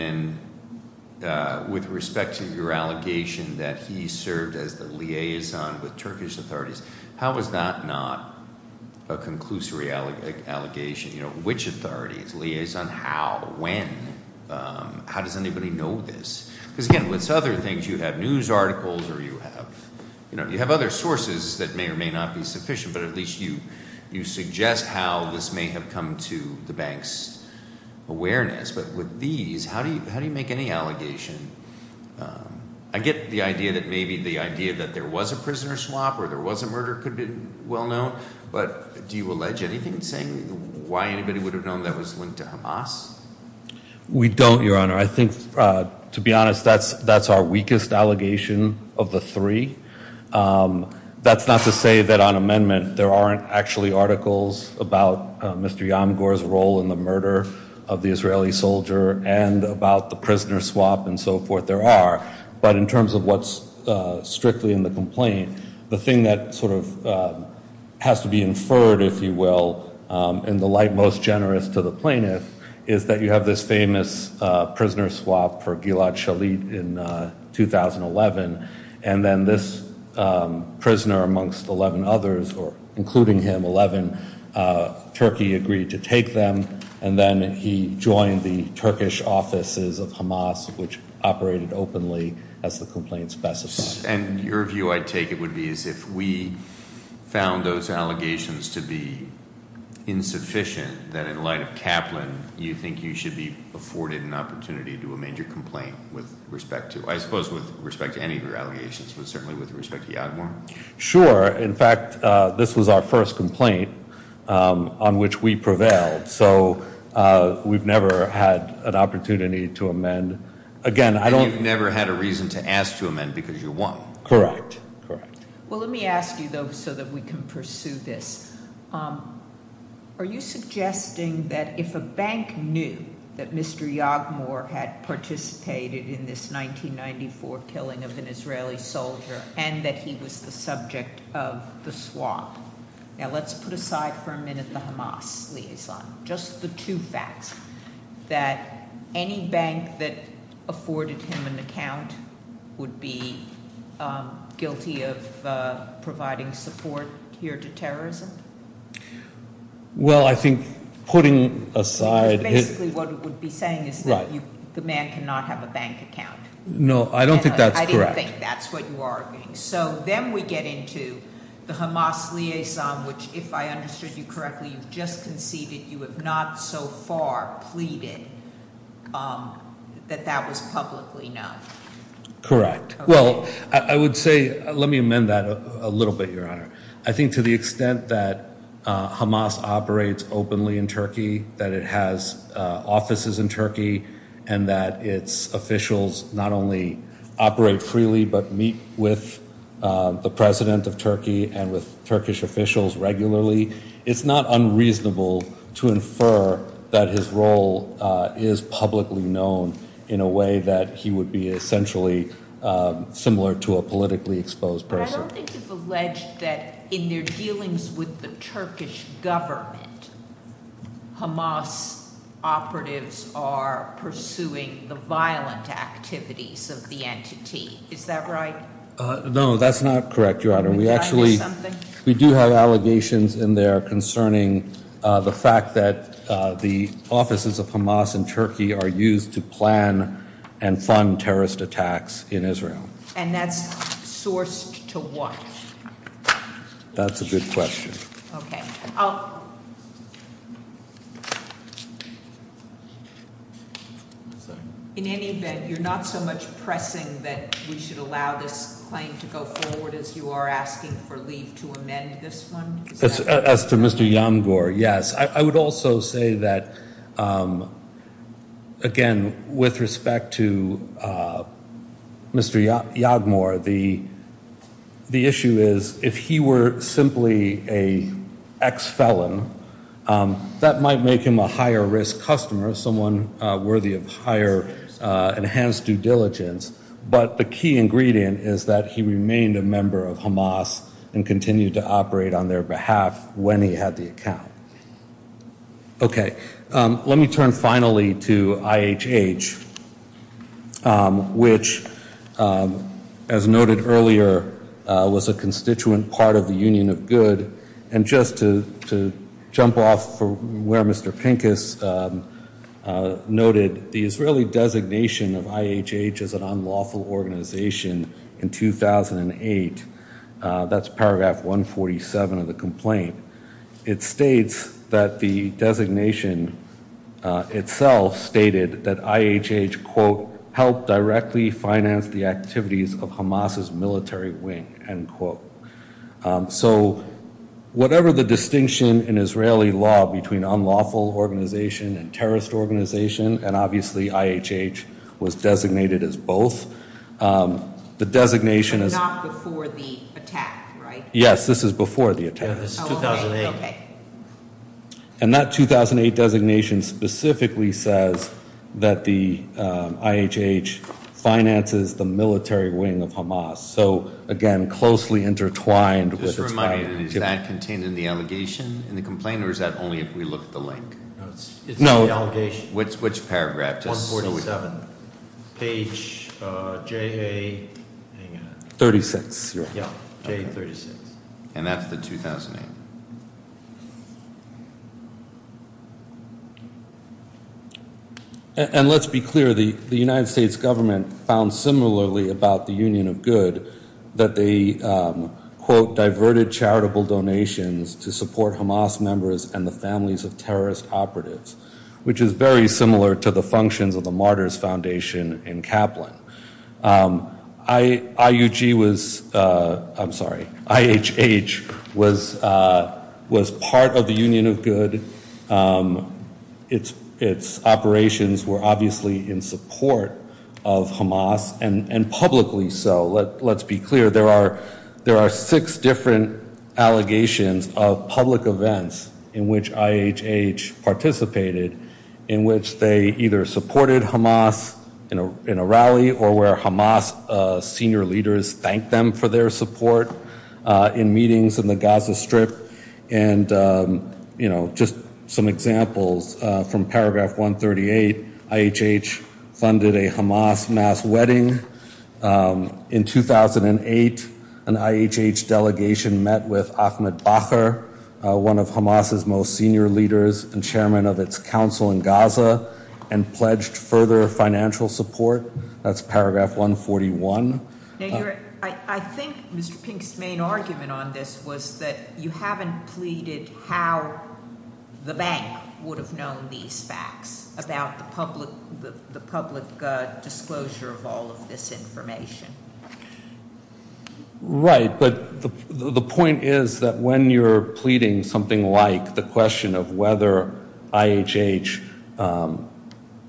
then with respect to your allegation that he served as the liaison with Turkish authorities. How is that not a conclusory allegation? Which authorities, liaison, how, when, how does anybody know this? because again, with other things, you have news articles or you have other sources that may or may not be sufficient. But at least you suggest how this may have come to the bank's awareness. But with these, how do you make any allegation? I get the idea that maybe the idea that there was a prisoner swap or there was a murder could be well known. But do you allege anything saying why anybody would have known that was linked to Hamas? We don't, your honor. I think, to be honest, that's our weakest allegation of the three. That's not to say that on amendment there aren't actually articles about Mr. Yamgur's role in the murder of the Israeli soldier and about the prisoner swap and so forth there are. But in terms of what's strictly in the complaint, the thing that sort of has to be inferred, if you will, in the light most generous to the plaintiff, is that you have this famous prisoner swap for this prisoner amongst 11 others, or including him, 11. Turkey agreed to take them, and then he joined the Turkish offices of Hamas, which operated openly as the complaint specified. And your view, I take it, would be as if we found those allegations to be insufficient that in light of Kaplan, you think you should be afforded an opportunity to do a major complaint with respect to. I suppose with respect to any of your allegations, but certainly with respect to Yamgur. Sure, in fact, this was our first complaint on which we prevailed, so we've never had an opportunity to amend. Again, I don't- You've never had a reason to ask to amend because you won't. Correct. Well, let me ask you, though, so that we can pursue this. Are you suggesting that if a bank knew that Mr. Yagmur had participated in this 1994 killing of an Israeli soldier, and that he was the subject of the swap? Now, let's put aside for a minute the Hamas liaison. Just the two facts, that any bank that afforded him an account would be guilty of providing support here to terrorism? Well, I think putting aside- Basically, what it would be saying is that the man cannot have a bank account. No, I don't think that's correct. I didn't think that's what you are arguing. So then we get into the Hamas liaison, which if I understood you correctly, you've just conceded you have not so far pleaded that that was publicly known. Correct. Well, I would say, let me amend that a little bit, Your Honor. I think to the extent that Hamas operates openly in Turkey, that it has offices in Turkey, and that its officials not only operate freely, but meet with the president of Turkey and with Turkish officials regularly, it's not unreasonable to infer that his role is publicly known in a way that he would be essentially similar to a politically exposed person. But I don't think you've alleged that in their dealings with the Turkish government, Hamas operatives are pursuing the violent activities of the entity. Is that right? No, that's not correct, Your Honor. We actually- We do have allegations in there concerning the fact that the offices of Hamas in Turkey are used to plan and fund terrorist attacks in Israel. And that's sourced to what? That's a good question. Okay. In any event, you're not so much pressing that we should allow this claim to go forward as you are asking for leave to amend this one? As to Mr. Yamgur, yes. I would also say that, again, with respect to Mr. Yamgur, the issue is if he were simply a ex-felon, that might make him a higher risk customer, someone worthy of higher enhanced due diligence. But the key ingredient is that he remained a member of Hamas and continued to operate on their behalf when he had the account. Okay. Let me turn finally to IHH, which, as noted earlier, was a constituent part of the Union of Good. And just to jump off from where Mr. Pincus noted, the Israeli designation of IHH as an unlawful organization in 2008, that's paragraph 147 of the complaint, it states that the designation itself stated that IHH, quote, helped directly finance the activities of Hamas's military wing, end quote. So whatever the distinction in Israeli law between unlawful organization and terrorist organization, and obviously IHH was designated as both, the designation is... But not before the attack, right? Yes, this is before the attack. Yeah, this is 2008. And that 2008 designation specifically says that the IHH finances the military wing of Hamas. So, again, closely intertwined with... Just a reminder, is that contained in the allegation in the complaint or is that only if we look at the link? No, it's in the allegation. Which paragraph? 147, page JA... 36. And that's the 2008. And let's be clear, the United States government found similarly about the Union of Good that they, quote, diverted charitable donations to support Hamas members and the families of terrorist operatives. Which is very similar to the functions of the Martyrs Foundation in Kaplan. IUG was... I'm sorry, IHH was part of the Union of Good. Its operations were obviously in support of Hamas and publicly so. Let's be clear, there are six different allegations of public events in which IHH participated, in which they either supported Hamas in a rally or where Hamas senior leaders thanked them for their support in meetings in the Gaza Strip. And just some examples from paragraph 138, IHH funded a Hamas mass wedding. In 2008, an IHH delegation met with Ahmed Bakr, one of Hamas's most senior leaders and chairman of its council in Gaza and pledged further financial support. That's paragraph 141. I think Mr. Pink's main argument on this was that you haven't pleaded how the bank would have known these facts about the public disclosure of all of this information. Right, but the point is that when you're pleading something like the question of whether IHH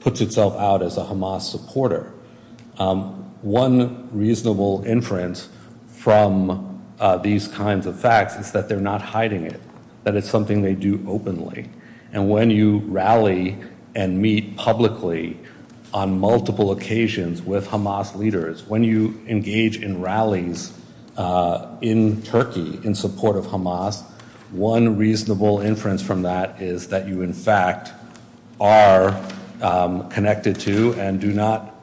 puts itself out as a Hamas supporter, one reasonable inference from these kinds of facts is that they're not hiding it, that it's something they do openly. And when you rally and meet publicly on multiple occasions with Hamas leaders, when you engage in rallies in Turkey in support of Hamas, one reasonable inference from that is that you in fact are connected to and do not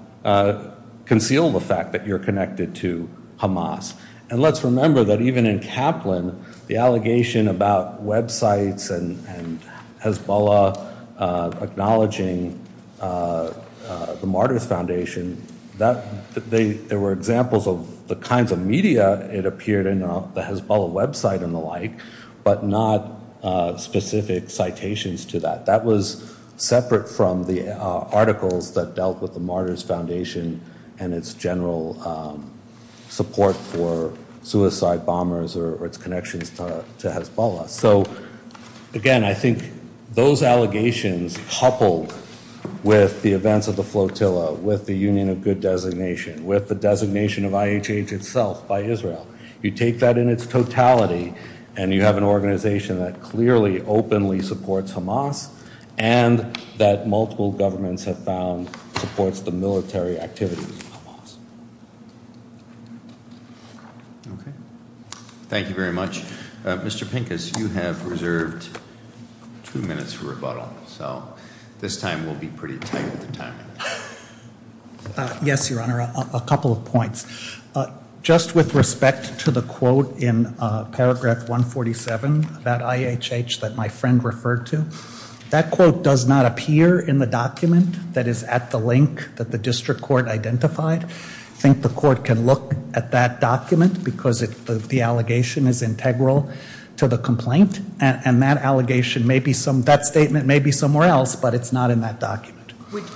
conceal the fact that you're connected to Hamas. And let's remember that even in Kaplan, the allegation about websites and Hezbollah acknowledging the Martyrs Foundation, there were examples of the kinds of media it appeared in the Hezbollah website and the like, but not specific citations to that. That was separate from the articles that dealt with the Martyrs Foundation and its general support for suicide bombers or its connections to Hezbollah. So again, I think those allegations coupled with the events of the flotilla, with the Union of Good Designation, with the designation of IHH itself by Israel, you take that in its totality and you have an organization that clearly openly supports Hamas and that multiple governments have found supports the military activities of Hamas. Okay, thank you very much. Mr. Pincus, you have reserved two minutes for rebuttal, so this time will be pretty tight with the timing. Yes, Your Honor, a couple of points. Just with respect to the quote in paragraph 147, that IHH that my friend referred to, that quote does not appear in the document that is at the link that the district court identified. I think the court can look at that document because the allegation is integral to the complaint and that allegation may be some, that statement may be somewhere else, but it's not in that document.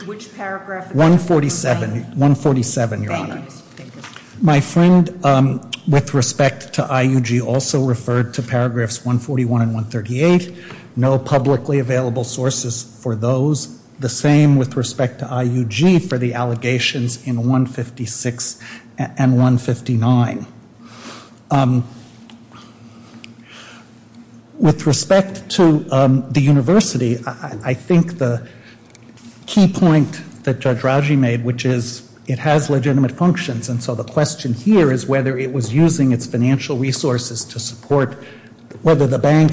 Which paragraph? 147, Your Honor. Thank you, Mr. Pincus. My friend, with respect to IUG, also referred to paragraphs 141 and 138. No publicly available sources for those. The same with respect to IUG for the allegations in 156 and 159. With respect to the university, I think the key point that Judge Raji made, which is it has legitimate functions and so the question here is whether it was using its financial resources to support, whether the bank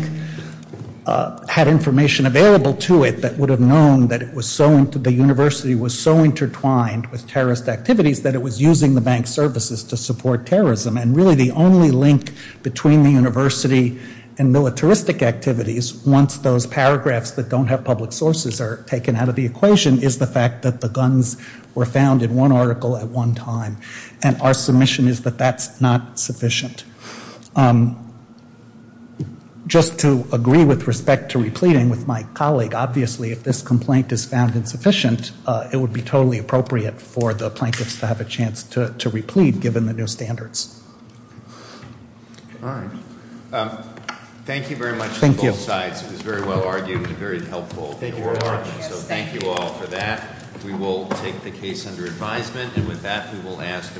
had information available to it that would have known that it was so, the university was so intertwined with terrorist activities that it was using the bank services to support terrorism and really the only link between the university and militaristic activities, once those paragraphs that don't have public sources are taken out of the equation, is the fact that the guns were found in one article at one time and our submission is that that's not sufficient. Just to agree with respect to repleting with my colleague, obviously if this complaint is found insufficient, it would be totally appropriate for the plaintiffs to have a chance to replete given the new standards. All right. Thank you very much. Thank you. Both sides. It was very well argued and very helpful. So thank you all for that. We will take the case under advisement and with that we will ask the Corporate Deputy to adjourn.